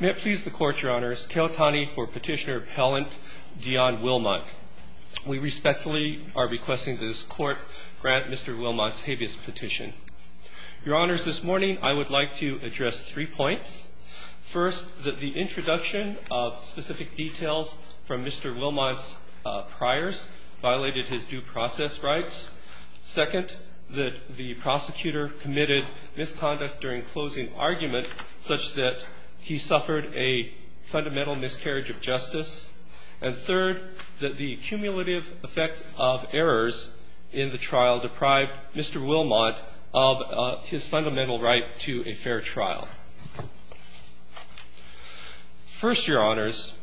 May it please the Court, Your Honors, Keohtani for Petitioner Appellant Dionne Wilmont. We respectfully are requesting that this Court grant Mr. Wilmont's habeas petition. Your Honors, this morning I would like to address three points. First, that the introduction of specific details from Mr. Wilmont's priors violated his due process rights. Second, that the prosecutor committed misconduct during closing argument such that he suffered a fundamental miscarriage of justice. And third, that the cumulative effect of errors in the trial deprived Mr. Wilmont of his fundamental right to a fair trial. First, Your Honors,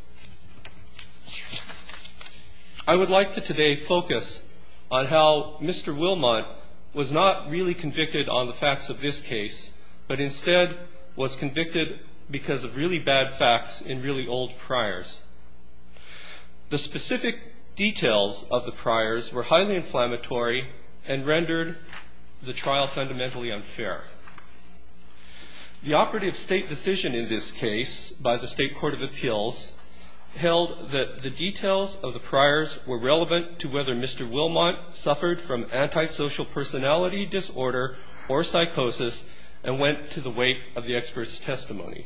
I would like to today focus on how Mr. Wilmont was not really convicted on the facts of this case, but instead was convicted because of really bad facts in really old priors. The specific details of the priors were highly inflammatory and rendered the trial fundamentally unfair. The operative state decision in this case by the State Court of Appeals held that the details of the priors were relevant to whether Mr. Wilmont suffered from antisocial personality disorder or psychosis and went to the weight of the expert's testimony.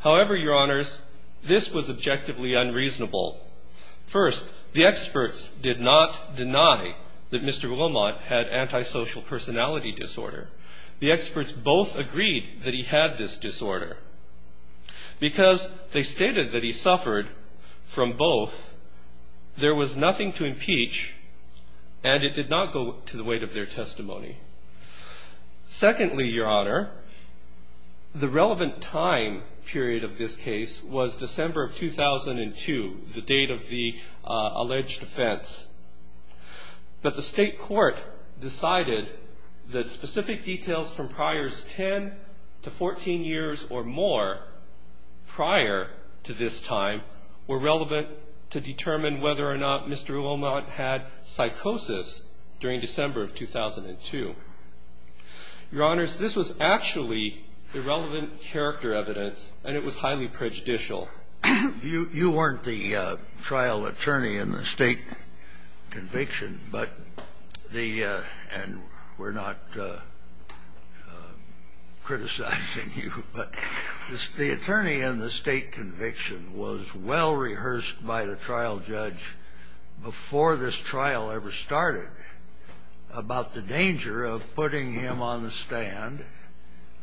However, Your Honors, this was objectively unreasonable. First, the experts did not deny that Mr. Wilmont had antisocial personality disorder. The experts both agreed that he had this disorder because they stated that he suffered from both, there was nothing to impeach, and it did not go to the weight of their testimony. Secondly, Your Honor, the relevant time period of this case was December of 2002, the date of the alleged offense. But the State Court decided that specific details from priors 10 to 14 years or more prior to this time were relevant to determine whether or not Mr. Wilmont had psychosis during December of 2002. Your Honors, this was actually irrelevant character evidence, and it was highly prejudicial. You weren't the trial attorney in the state conviction, and we're not criticizing you. But the attorney in the state conviction was well rehearsed by the trial judge before this trial ever started about the danger of putting him on the stand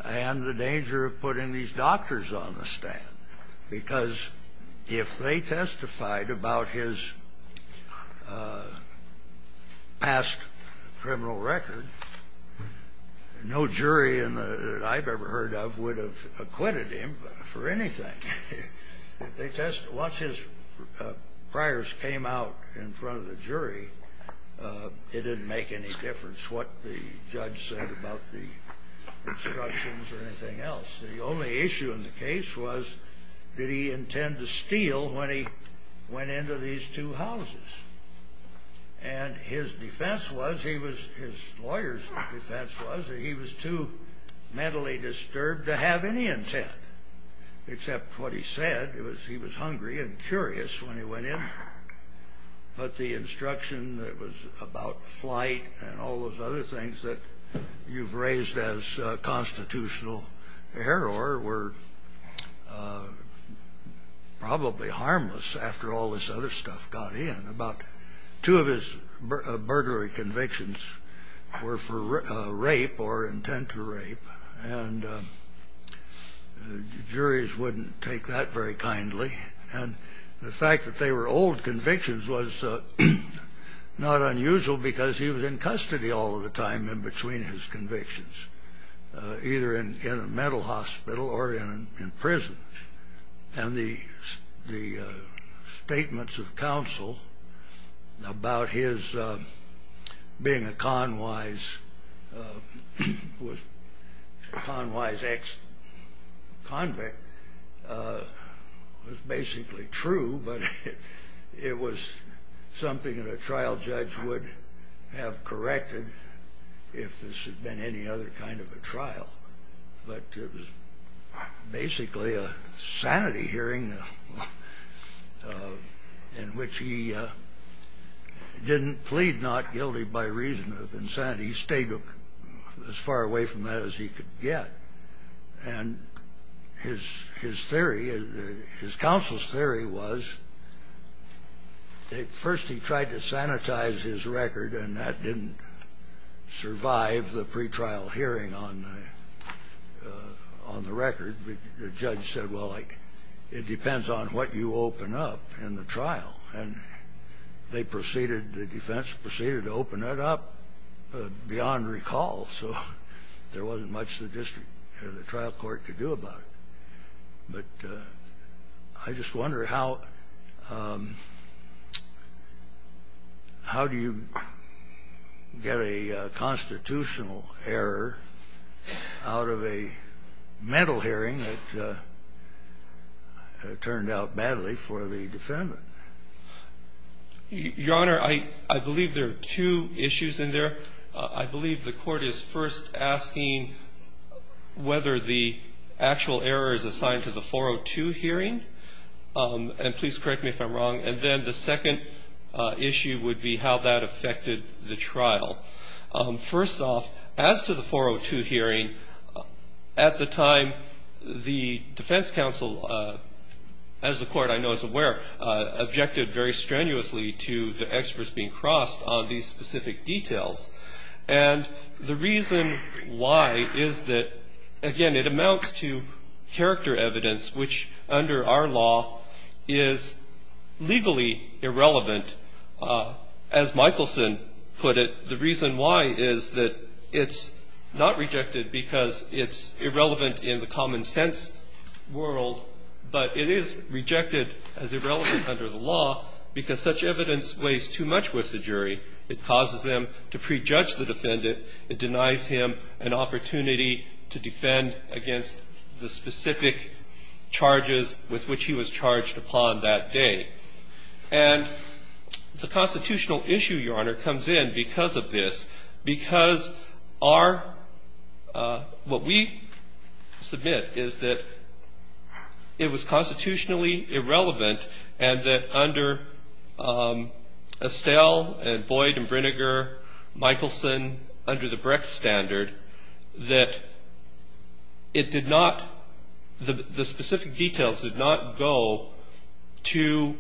and the danger of putting these doctors on the stand. Because if they testified about his past criminal record, no jury that I've ever heard of would have acquitted him for anything. Once his priors came out in front of the jury, it didn't make any difference what the judge said about the instructions or anything else. The only issue in the case was, did he intend to steal when he went into these two houses? And his defense was, his lawyer's defense was, that he was too mentally disturbed to have any intent, except what he said, he was hungry and curious when he went in. But the instruction that was about flight and all those other things that you've raised as constitutional error were probably harmless after all this other stuff got in. About two of his burglary convictions were for rape or intent to rape, and juries wouldn't take that very kindly. And the fact that they were old convictions was not unusual because he was in custody all of the time in between his convictions, either in a mental hospital or in prison. And the statements of counsel about his being a Conwise ex-convict was basically true, but it was something that a trial judge would have corrected if this had been any other kind of a trial. But it was basically a sanity hearing in which he didn't plead not guilty by reason of insanity. He stayed as far away from that as he could get. And his theory, his counsel's theory was, first he tried to sanitize his record and that didn't survive the pretrial hearing on the record. The judge said, well, it depends on what you open up in the trial. And the defense proceeded to open that up beyond recall, so there wasn't much the district or the trial court could do about it. But I just wonder how do you get a constitutional error out of a mental hearing that turned out badly for the defendant? Your Honor, I believe there are two issues in there. I believe the court is first asking whether the actual error is assigned to the 402 hearing. And please correct me if I'm wrong. And then the second issue would be how that affected the trial. First off, as to the 402 hearing, at the time the defense counsel, as the court I know is aware, objected very strenuously to the experts being crossed on these specific details. And the reason why is that, again, it amounts to character evidence, which under our law is legally irrelevant. As Michelson put it, the reason why is that it's not rejected because it's irrelevant in the common sense world, but it is rejected as irrelevant under the law because such evidence weighs too much with the jury. It causes them to prejudge the defendant. It denies him an opportunity to defend against the specific charges with which he was charged upon that day. And the constitutional issue, Your Honor, comes in because of this. Because our – what we submit is that it was constitutionally irrelevant and that under Estelle and Boyd and Brinegar, Michelson, under the Brecht standard, that it did not – the specific details did not go to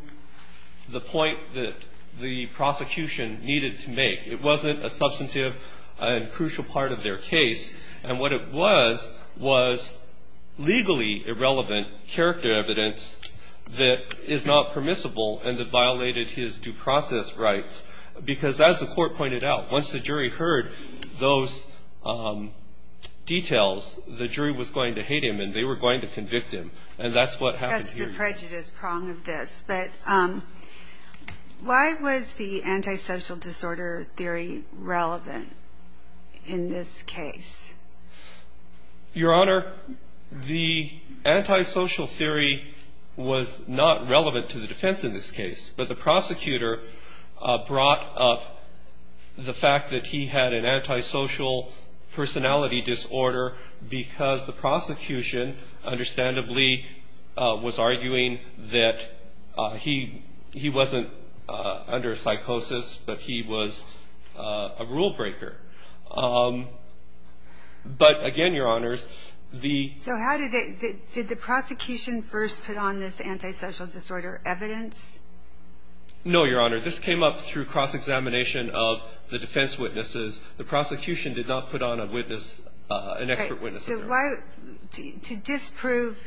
the point that the prosecution needed to make. It wasn't a substantive and crucial part of their case. And what it was was legally irrelevant character evidence that is not permissible and that violated his due process rights because, as the Court pointed out, once the jury heard those details, the jury was going to hate him and they were going to convict him. And that's what happened here. That's the prejudice prong of this. But why was the antisocial disorder theory relevant in this case? Your Honor, the antisocial theory was not relevant to the defense in this case. But the prosecutor brought up the fact that he had an antisocial personality disorder because the prosecution, understandably, was arguing that he wasn't under psychosis but he was a rule breaker. But, again, Your Honors, the – So how did – did the prosecution first put on this antisocial disorder evidence? No, Your Honor. This came up through cross-examination of the defense witnesses. The prosecution did not put on a witness – an expert witness. So why – to disprove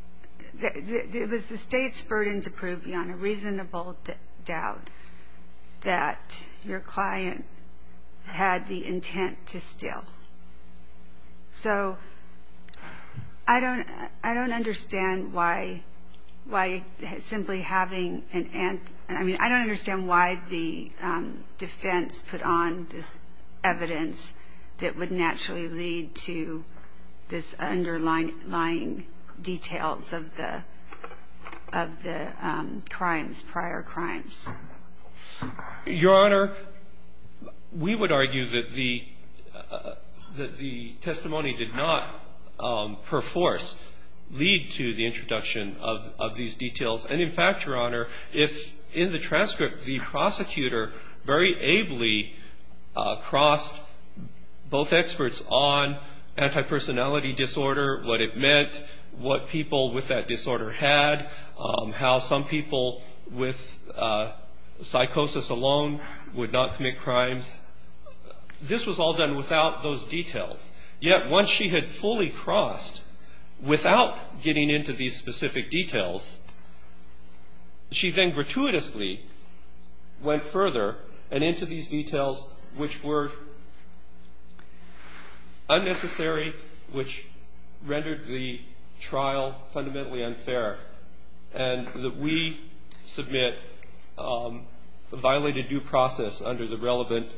– it was the State's burden to prove, Your Honor, reasonable doubt that your client had the intent to steal. So I don't – I don't understand why simply having an – this underlying details of the – of the crimes, prior crimes. Your Honor, we would argue that the – that the testimony did not, per force, lead to the introduction of these details. And, in fact, Your Honor, if in the transcript the prosecutor very ably crossed both experts on antipersonality disorder, what it meant, what people with that disorder had, how some people with psychosis alone would not commit crimes. This was all done without those details. Yet, once she had fully crossed without getting into these specific details, she then gratuitously went further and into these details which were unnecessary, which rendered the trial fundamentally unfair, and that we submit violated due process under the relevant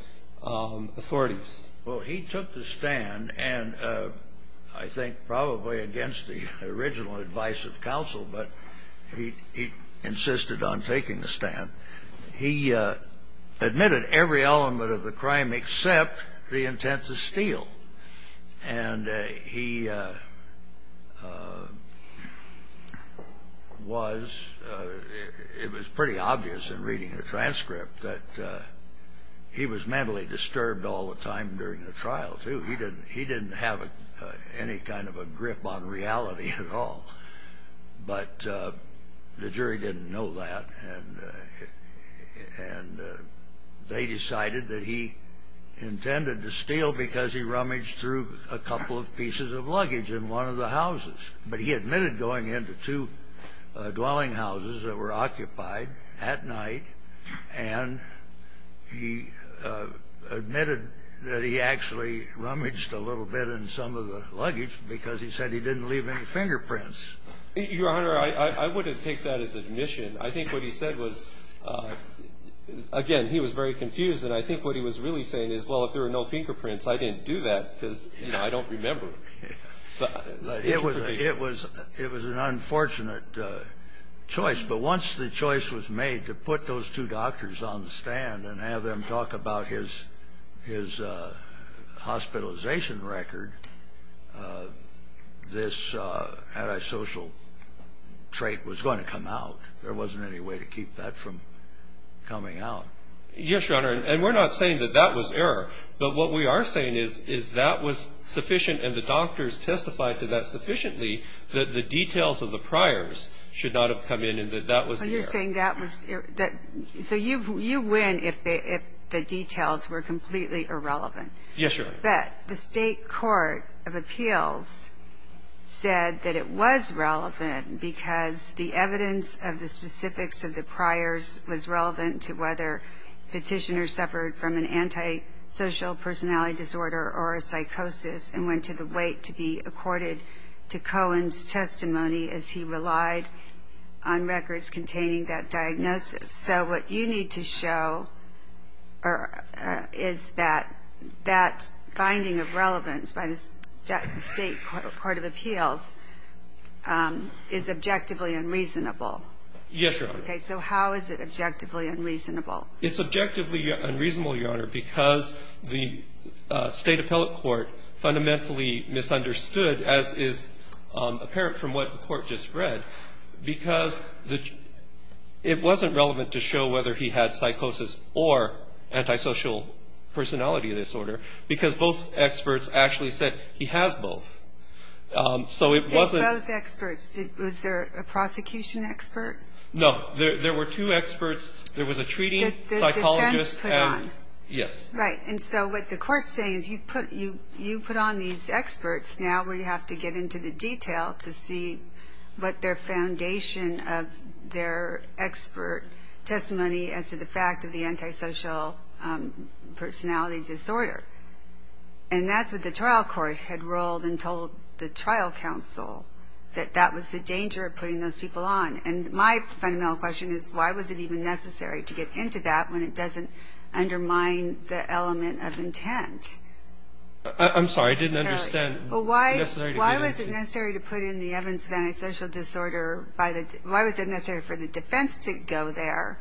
authorities. Well, he took the stand, and I think probably against the original advice of counsel, but he insisted on taking the stand. He admitted every element of the crime except the intent to steal. And he was – it was pretty obvious in reading the transcript that he was mentally disturbed all the time during the trial, too. He didn't have any kind of a grip on reality at all. But the jury didn't know that, and they decided that he intended to steal because he rummaged through a couple of pieces of luggage in one of the houses. But he admitted going into two dwelling houses that were occupied at night, and he admitted that he actually rummaged a little bit in some of the luggage because he said he didn't leave any fingerprints. Your Honor, I wouldn't take that as admission. I think what he said was – again, he was very confused, and I think what he was really saying is, well, if there were no fingerprints, I didn't do that because, you know, I don't remember. But it was an unfortunate choice. But once the choice was made to put those two doctors on the stand and have them talk about his hospitalization record, this antisocial trait was going to come out. There wasn't any way to keep that from coming out. Yes, Your Honor, and we're not saying that that was error. But what we are saying is that was sufficient and the doctors testified to that sufficiently that the details of the priors should not have come in and that that was the error. So you're saying that was – so you win if the details were completely irrelevant. Yes, Your Honor. But the state court of appeals said that it was relevant because the evidence of the specifics of the priors was relevant to whether petitioners suffered from an antisocial personality disorder or a psychosis and went to the weight to be accorded to Cohen's testimony as he relied on records containing that diagnosis. So what you need to show is that that finding of relevance by the state court of appeals is objectively unreasonable. Yes, Your Honor. Okay. So how is it objectively unreasonable? It's objectively unreasonable, Your Honor, because the state appellate court fundamentally misunderstood, as is apparent from what the Court just read, because it wasn't relevant to show whether he had psychosis or antisocial personality disorder because both experts actually said he has both. So it wasn't – He says both experts. Was there a prosecution expert? No. There were two experts. There was a treating psychologist and – That the defense put on. Yes. Right. And so what the Court's saying is you put on these experts now where you have to get into the detail to see what their foundation of their expert testimony as to the fact of the antisocial personality disorder. And that's what the trial court had ruled and told the trial counsel, that that was the danger of putting those people on. And my fundamental question is why was it even necessary to get into that when it doesn't undermine the element of intent? I'm sorry. I didn't understand. Why was it necessary to put in the evidence of antisocial disorder by the – why was it necessary for the defense to go there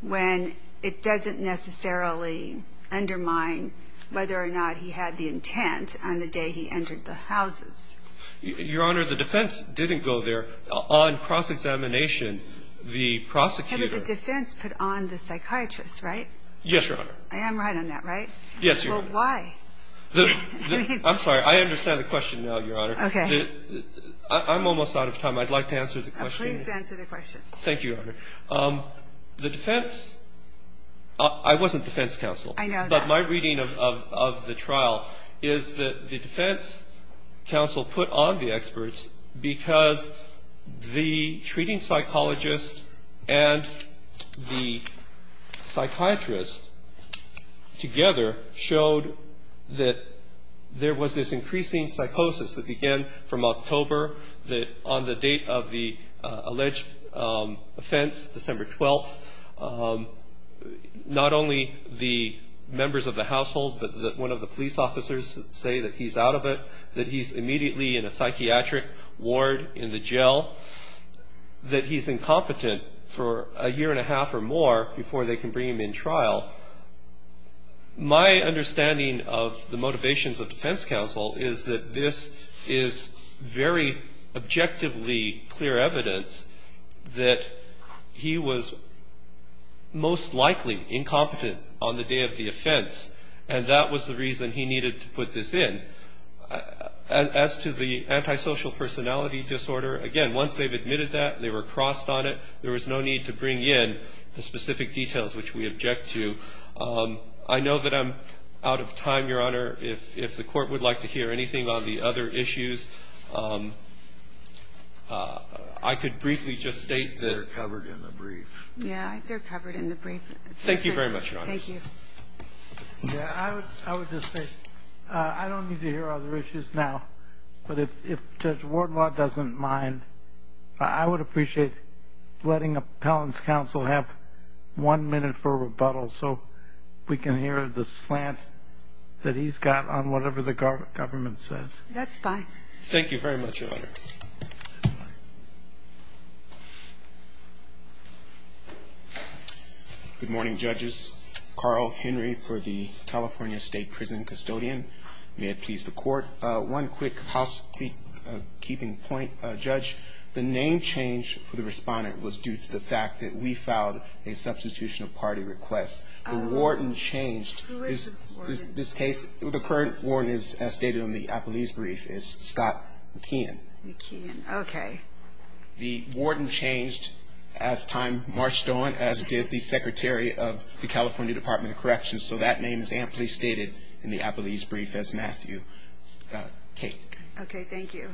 when it doesn't necessarily undermine whether or not he had the intent on the day he entered the houses? Your Honor, the defense didn't go there. On cross-examination, the prosecutor – But the defense put on the psychiatrist, right? Yes, Your Honor. I am right on that, right? Yes, Your Honor. Well, why? I'm sorry. I understand the question now, Your Honor. Okay. I'm almost out of time. I'd like to answer the question. Please answer the question. Thank you, Your Honor. The defense – I wasn't defense counsel. I know that. But my reading of the trial is that the defense counsel put on the experts because the treating psychologist and the psychiatrist together showed that there was this increasing psychosis that began from October, that on the date of the alleged offense, December 12th, not only the members of the household, but one of the police officers say that he's out of it, that he's immediately in a psychiatric ward in the jail, that he's incompetent for a year and a half or more before they can bring him in trial. My understanding of the motivations of defense counsel is that this is very objectively clear evidence that he was most likely incompetent on the day of the offense, and that was the reason he needed to put this in. As to the antisocial personality disorder, again, once they've admitted that, they were crossed on it, there was no need to bring in the specific details which we object to. I know that I'm out of time, Your Honor. If the Court would like to hear anything on the other issues, I could briefly just state that they're covered in the brief. Yeah, they're covered in the brief. Thank you very much, Your Honor. Thank you. I would just say I don't need to hear other issues now, but if Judge Wardlaw doesn't mind, I would appreciate letting appellant's counsel have one minute for rebuttal so we can hear the slant that he's got on whatever the government says. That's fine. Thank you very much, Your Honor. Good morning, Judges. Carl Henry for the California State Prison Custodian. May it please the Court. One quick housekeeping point, Judge. The name change for the respondent was due to the fact that we filed a substitution of party requests. The warden changed. Who is the warden? The current warden, as stated in the appellee's brief, is Scott McKeon. McKeon. Okay. The warden changed as time marched on, as did the Secretary of the California Department of Corrections, so that name is amply stated in the appellee's brief as Matthew Cate. Okay. Thank you.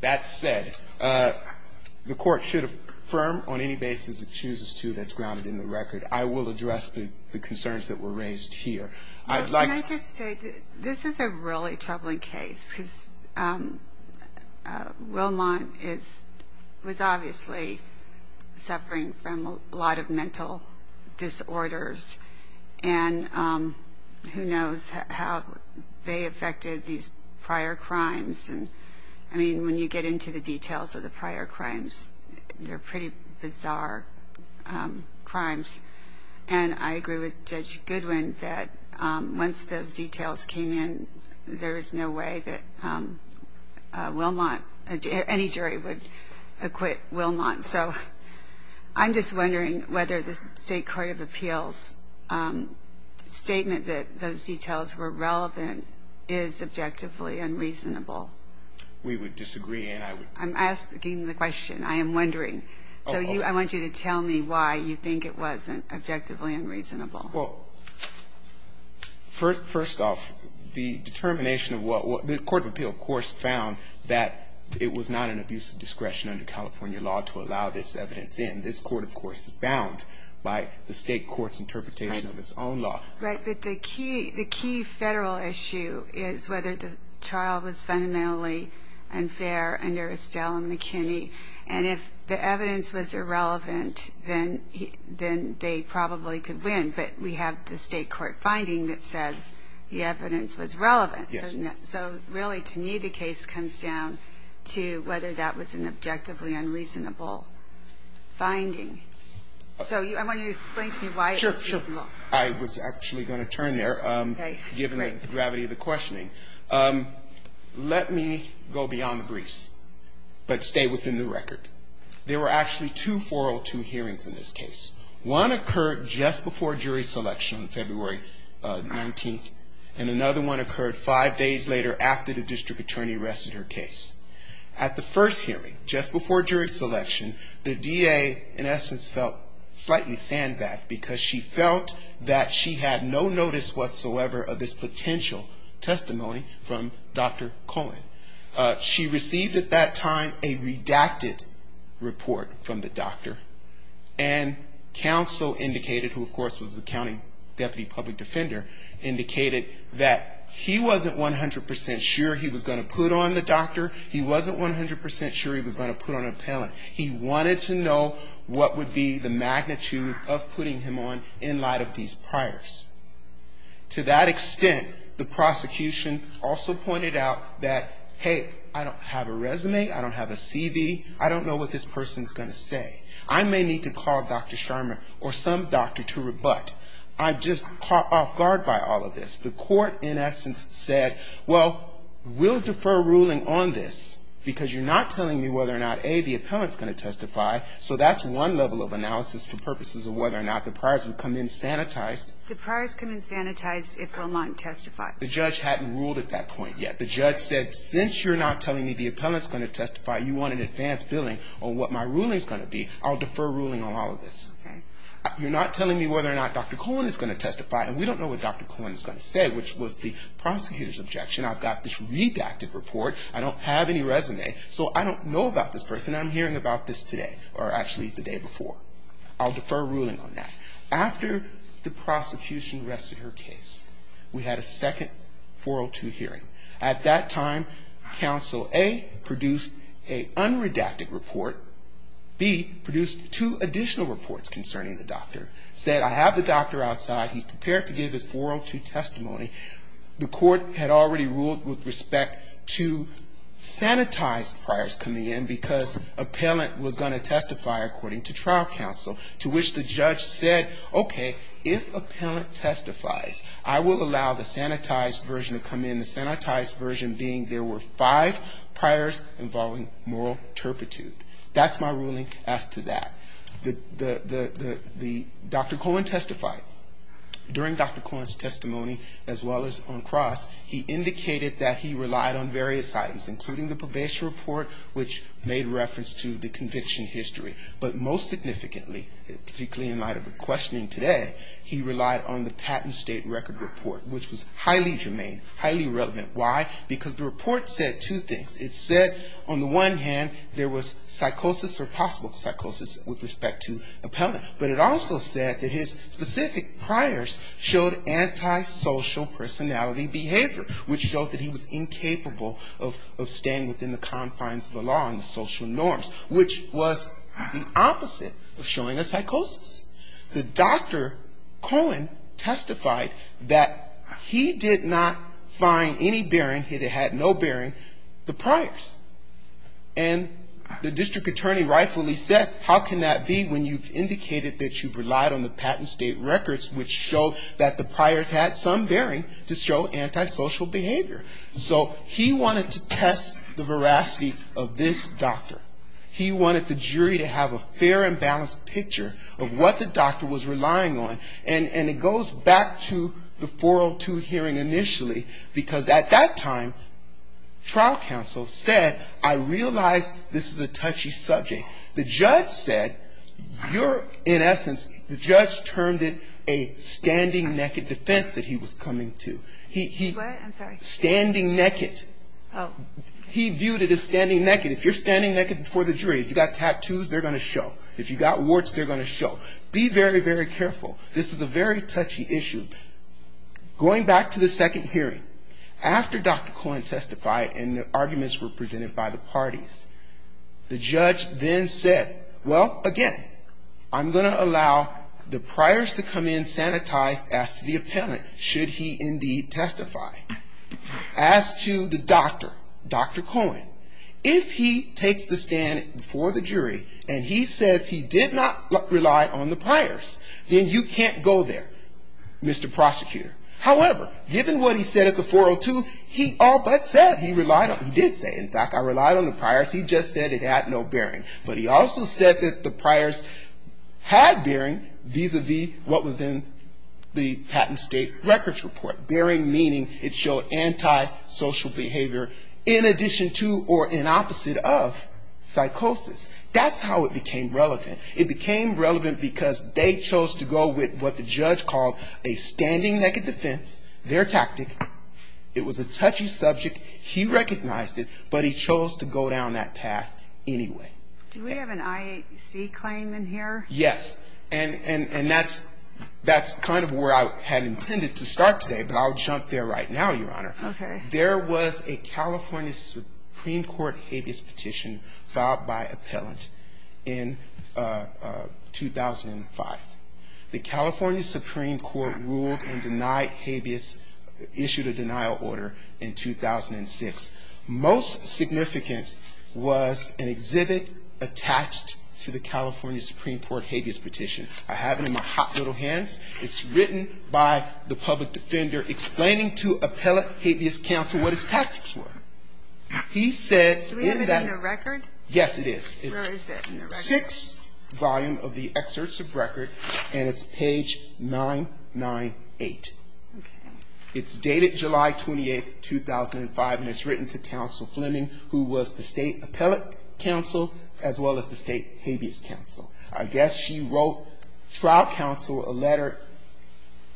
That said, the Court should affirm on any basis it chooses to that's grounded in the record. I will address the concerns that were raised here. Can I just say, this is a really troubling case, because Wilmont was obviously suffering from a lot of mental disorders, and who knows how they affected these prior crimes. I mean, when you get into the details of the prior crimes, they're pretty bizarre crimes. And I agree with Judge Goodwin that once those details came in, there is no way that any jury would acquit Wilmont. So I'm just wondering whether the State Court of Appeals' statement that those details were relevant is objectively unreasonable. We would disagree. I'm asking the question. I am wondering. So I want you to tell me why you think it wasn't objectively unreasonable. Well, first off, the determination of what the Court of Appeals, of course, found that it was not an abuse of discretion under California law to allow this evidence in. This court, of course, is bound by the State Court's interpretation of its own law. Right. But the key federal issue is whether the trial was fundamentally unfair under Estelle and McKinney. And if the evidence was irrelevant, then they probably could win. But we have the State Court finding that says the evidence was relevant. Yes. So really, to me, the case comes down to whether that was an objectively unreasonable finding. So I want you to explain to me why it was reasonable. First off, I was actually going to turn there, given the gravity of the questioning. Let me go beyond the briefs, but stay within the record. There were actually two 402 hearings in this case. One occurred just before jury selection on February 19th, and another one occurred five days later after the district attorney arrested her case. At the first hearing, just before jury selection, the DA, in essence, felt slightly sandbagged because she felt that she had no notice whatsoever of this potential testimony from Dr. Cohen. She received at that time a redacted report from the doctor, and counsel indicated, who, of course, was the county deputy public defender, indicated that he wasn't 100 percent sure he was going to put on the doctor. He wasn't 100 percent sure he was going to put on an appellant. He wanted to know what would be the magnitude of putting him on in light of these priors. To that extent, the prosecution also pointed out that, hey, I don't have a resume. I don't have a CV. I don't know what this person is going to say. I may need to call Dr. Sherman or some doctor to rebutt. I'm just caught off guard by all of this. The court, in essence, said, well, we'll defer ruling on this because you're not telling me whether or not, A, the appellant's going to testify, so that's one level of analysis for purposes of whether or not the priors would come in sanitized. The priors come in sanitized if Wilmont testifies. The judge hadn't ruled at that point yet. The judge said, since you're not telling me the appellant's going to testify, you want an advance billing on what my ruling's going to be, I'll defer ruling on all of this. You're not telling me whether or not Dr. Cohen is going to testify, and we don't know what Dr. Cohen is going to say, which was the prosecutor's objection. I've got this redacted report. I don't have any resume, so I don't know about this person. I'm hearing about this today, or actually the day before. I'll defer ruling on that. After the prosecution rested her case, we had a second 402 hearing. At that time, counsel A produced an unredacted report. B produced two additional reports concerning the doctor. Said, I have the doctor outside. He's prepared to give his 402 testimony. The court had already ruled with respect to sanitized priors coming in, because appellant was going to testify according to trial counsel, to which the judge said, okay, if appellant testifies, I will allow the sanitized version to come in. And the sanitized version being there were five priors involving moral turpitude. That's my ruling as to that. Dr. Cohen testified. During Dr. Cohen's testimony, as well as on cross, he indicated that he relied on various items, including the probation report, which made reference to the conviction history. But most significantly, particularly in light of the questioning today, he relied on the patent state record report, which was highly germane, highly relevant. Why? Because the report said two things. It said, on the one hand, there was psychosis or possible psychosis with respect to appellant. But it also said that his specific priors showed antisocial personality behavior, which showed that he was incapable of staying within the confines of the law and the social norms, which was the opposite of showing a psychosis. The doctor, Cohen, testified that he did not find any bearing, he had no bearing, the priors. And the district attorney rightfully said, how can that be when you've indicated that you've relied on the patent state records, which show that the priors had some bearing to show antisocial behavior? So he wanted to test the veracity of this doctor. He wanted the jury to have a fair and balanced picture of what the doctor was relying on. And it goes back to the 402 hearing initially, because at that time, trial counsel said, I realize this is a touchy subject. The judge said, you're in essence, the judge termed it a standing naked defense that he was coming to. He stood naked. He viewed it as standing naked. If you're standing naked before the jury, if you've got tattoos, they're going to show. If you've got warts, they're going to show. Be very, very careful. This is a very touchy issue. Going back to the second hearing, after Dr. Cohen testified and the arguments were presented by the parties, the judge then said, well, again, I'm going to allow the priors to come in sanitized as to the appellant, should he indeed testify. As to the doctor, Dr. Cohen, if he takes the stand before the jury and he says he did not rely on the priors, then you can't go there, Mr. Prosecutor. However, given what he said at the 402, he all but said he relied on, he did say, in fact, I relied on the priors. He just said it had no bearing. But he also said that the priors had bearing vis-à-vis what was in the patent state records report. Bearing meaning it showed antisocial behavior in addition to or in opposite of psychosis. That's how it became relevant. It became relevant because they chose to go with what the judge called a standing naked defense, their tactic. It was a touchy subject. He recognized it, but he chose to go down that path anyway. Do we have an IAC claim in here? Yes. And that's kind of where I had intended to start today, but I'll jump there right now, Your Honor. There was a California Supreme Court habeas petition filed by appellant in 2005. The California Supreme Court ruled and denied habeas, issued a denial order in 2006. Most significant was an exhibit attached to the California Supreme Court petition. I have it in my hot little hands. It's written by the public defender explaining to appellate habeas counsel what his tactics were. He said in that. Do we have it in the record? Yes, it is. Where is it in the record? It's in the sixth volume of the excerpts of record, and it's page 998. It's dated July 28, 2005, and it's written to counsel Fleming, who was the state appellate counsel as well as the state habeas counsel. I guess she wrote trial counsel a letter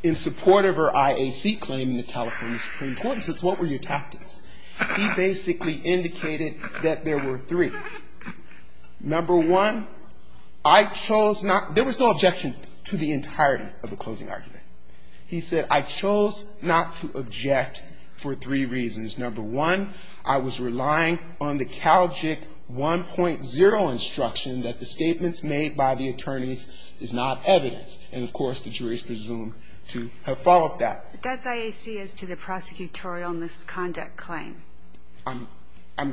in support of her IAC claim in the California Supreme Court and said, what were your tactics? He basically indicated that there were three. Number one, I chose not, there was no objection to the entirety of the closing argument. He said, I chose not to object for three reasons. Number one, I was relying on the CalGIC 1.0 instruction that the statements made by the attorneys is not evidence, and of course the jury is presumed to have followed that. Does IAC as to the prosecutorial misconduct claim? That's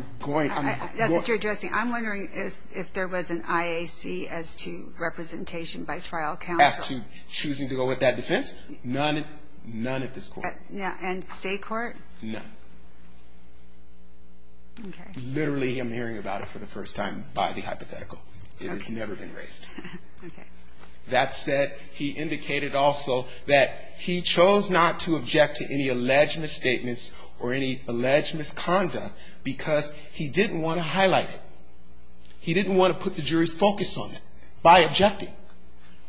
what you're addressing. I'm wondering if there was an IAC as to representation by trial counsel. As to choosing to go with that defense? None at this court. And state court? None. Literally, I'm hearing about it for the first time by the hypothetical. It has never been raised. That said, he indicated also that he chose not to object to any alleged misstatements or any alleged misconduct because he didn't want to highlight it. He didn't want to put the jury's focus on it by objecting.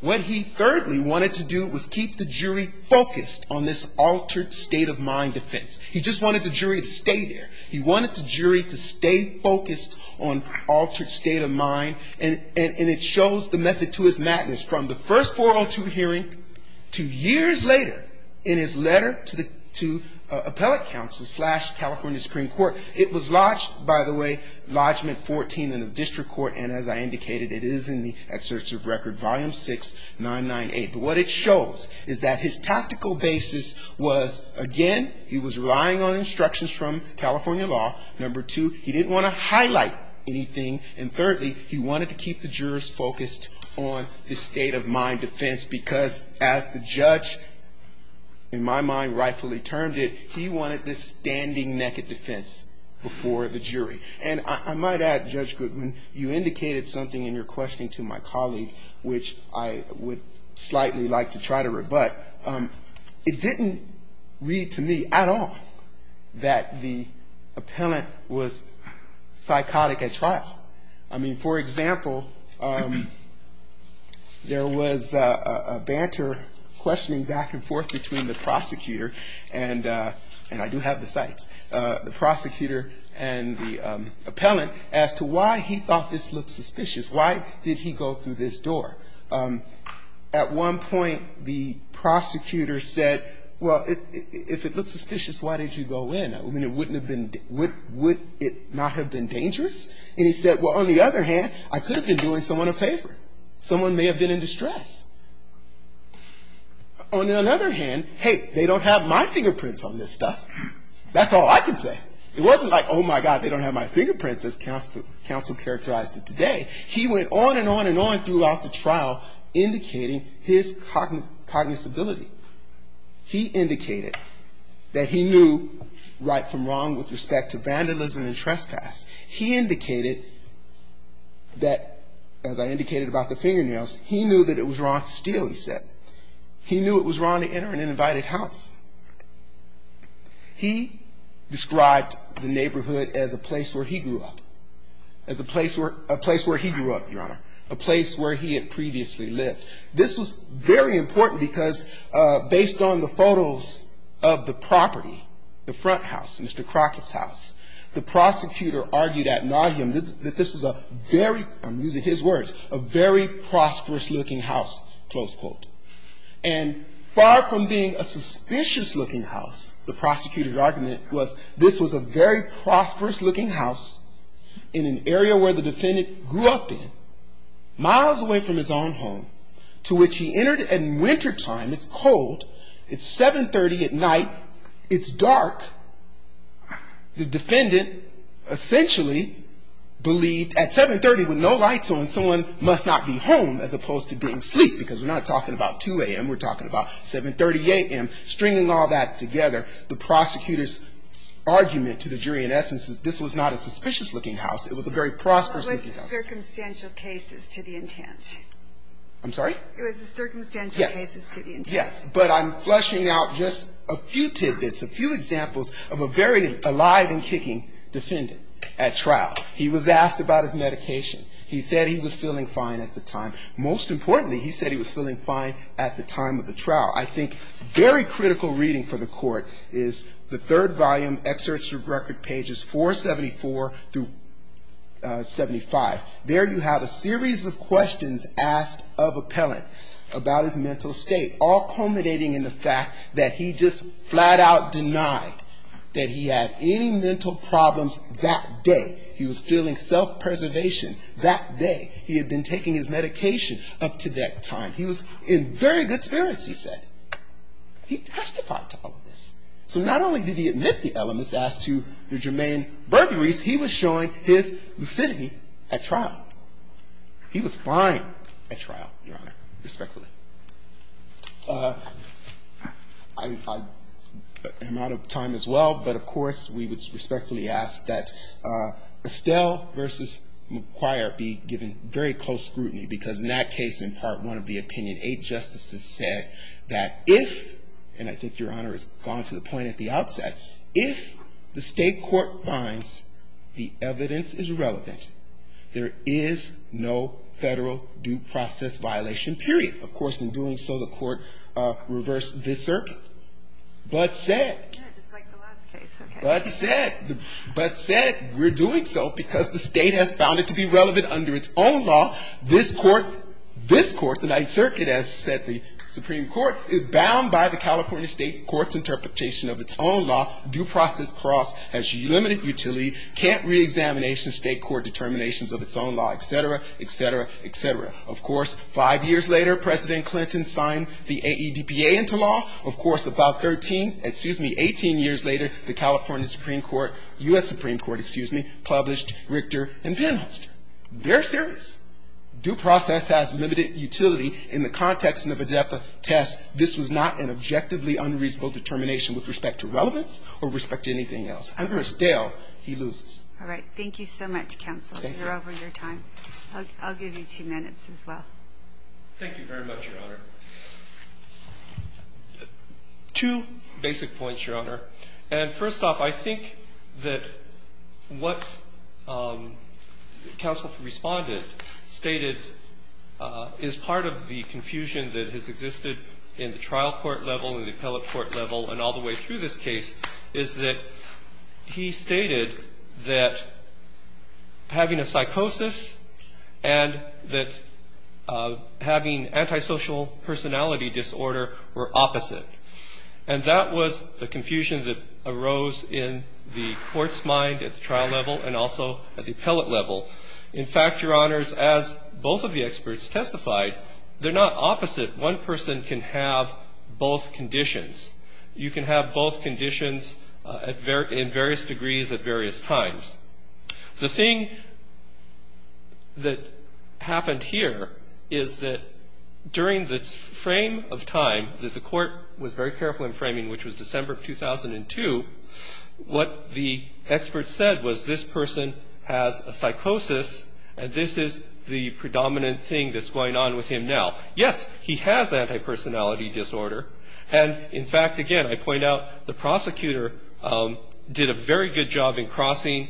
What he thirdly wanted to do was keep the jury focused on this altered state of mind defense. He just wanted the jury to stay there. He wanted the jury to stay focused on altered state of mind, and it shows the method to his madness from the first 402 hearing to years later in his letter to appellate counsel slash California Supreme Court. It was lodged, by the way, Lodgement 14 in the district court, and as I indicated, it is in the Excerpts of Record, Volume 6. But what it shows is that his tactical basis was, again, he was relying on instructions from California law, number two, he didn't want to highlight anything, and thirdly, he wanted to keep the jurors focused on this state of mind defense because, as the judge, in my mind, rightfully termed it, he wanted this standing-naked defense before the jury. And I might add, Judge Goodman, you indicated something in your questioning to my colleague, which I appreciate. I would slightly like to try to rebut. It didn't read to me at all that the appellant was psychotic at trial. I mean, for example, there was a banter questioning back and forth between the prosecutor, and I do have the cites, the prosecutor and the appellant as to why he thought this looked suspicious. Why did he go through this door? At one point, the prosecutor said, well, if it looked suspicious, why did you go in? I mean, it wouldn't have been, would it not have been dangerous? And he said, well, on the other hand, I could have been doing someone a favor. Someone may have been in distress. On the other hand, hey, they don't have my fingerprints on this stuff. That's all I can say. It wasn't like, oh, my God, they don't have my fingerprints, as counsel characterized it today. He went on and on and on throughout the trial, indicating his cognizability. He indicated that he knew right from wrong with respect to vandalism and trespass. He indicated that, as I indicated about the fingernails, he knew that it was wrong to steal, he said. He knew it was wrong to enter an uninvited house. He described the neighborhood as a place where he grew up, as a place where he grew up, Your Honor, a place where he had previously lived. This was very important, because based on the photos of the property, the front house, Mr. Crockett's house, the prosecutor argued ad nauseum that this was a very, I'm using his words, a very prosperous-looking house, close quote. And far from being a suspicious-looking house, the prosecutor's argument was this was a very prosperous-looking house in an area where the defendant grew up in, miles away from his own home, to which he entered at wintertime. It's cold. It's 730 at night. It's dark. The defendant essentially believed at 730 with no lights on, someone must not be home as opposed to being asleep, because we're not talking about 2 a.m., we're talking about 730 a.m., stringing all that together. The prosecutor's argument to the jury, in essence, is this was not a suspicious-looking house. It was a very prosperous-looking house. I'm sorry? It was a circumstantial case. Yes, but I'm flushing out just a few tidbits, a few examples of a very alive and kicking defendant at trial. He was asked about his medication. He said he was feeling fine at the time. Most importantly, he said he was feeling fine at the time of the trial. I think very critical reading for the Court is the third volume, Excerpts of Record, pages 474 through 75. There you have a series of questions asked of Appellant about his mental state, all culminating in the fact that he just flat-out denied that he had any mental problems that day. He was feeling self-preservation that day. He had been taking his medication up to that time. He was in very good spirits, he said. He testified to all of this. So not only did he admit the elements as to the germane burglaries, he was showing his lucidity at trial. He was fine at trial, Your Honor, respectfully. I am out of time as well, but of course, we would respectfully ask that Estelle versus McQuire be given very close scrutiny because in that case, in Part 1 of the opinion, eight justices said that if, and I think, Your Honor, it's gone to the point at the outset, if the State Court finds the evidence is relevant, there is no federal due process violation, period. Of course, in doing so, the Court reversed this circuit, but said, but said, but said, we're doing so because the State has found it to be relevant under its own law. This Court, this Court, the Ninth Circuit, as said the Supreme Court, in its interpretation of its own law, due process cross has limited utility, can't reexamination State Court determinations of its own law, et cetera, et cetera, et cetera. Of course, five years later, President Clinton signed the AEDPA into law. Of course, about 13, excuse me, 18 years later, the California Supreme Court, U.S. Supreme Court, excuse me, published Richter and Penholster. They're serious. Due process has limited utility in the context of AEDPA test. This was not an objectively unreasonable determination with respect to relevance or respect to anything else. And of course, Dale, he loses. All right. Thank you so much, counsel. Thank you. You're over your time. I'll give you two minutes as well. Thank you very much, Your Honor. Two basic points, Your Honor. And first off, I think that what counsel responded stated is part of the confusion that has existed in the trial court level and the appellate court level and all the way through this case is that he stated that having a psychosis and that having an antisocial personality disorder were opposite. And that was the confusion that arose in the court's mind at the trial level and also at the appellate level. In fact, Your Honors, as both of the experts testified, they're not opposite. One person can have both conditions. You can have both conditions in various degrees at various times. The thing that happened here is that during the frame of time that the court was very careful in framing, which was December of 2002, what the experts said was this person has a psychosis and this is the predominant thing that's going on with him now. Yes, he has antipersonality disorder. And in fact, again, I point out the prosecutor did a very good job in crossing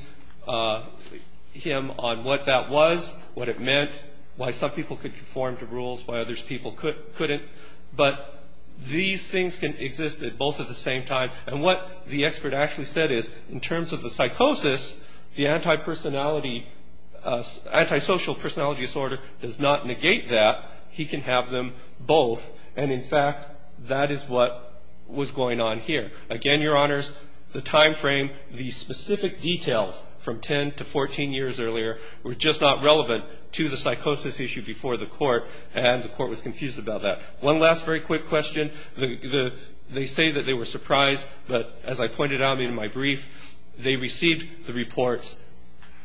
him on what that was, what it meant, why some people could conform to rules, why others people couldn't. But these things can exist at both at the same time. And what the expert actually said is in terms of the psychosis, the antisocial personality disorder does not negate that. He can have them both. And in fact, that is what was going on here. Again, Your Honors, the timeframe, the specific details from 10 to 14 years earlier were just not relevant to the psychosis issue before the court and the court was confused about that. One last very quick question. They say that they were surprised, but as I pointed out in my brief, they received the reports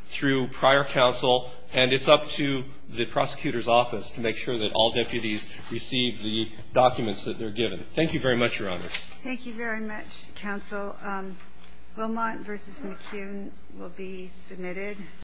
through prior counsel and it's up to the prosecutor's office to make sure that all deputies receive the documents that they're given. Thank you very much, Your Honors. Thank you very much, counsel. Wilmot v. McCune will be submitted.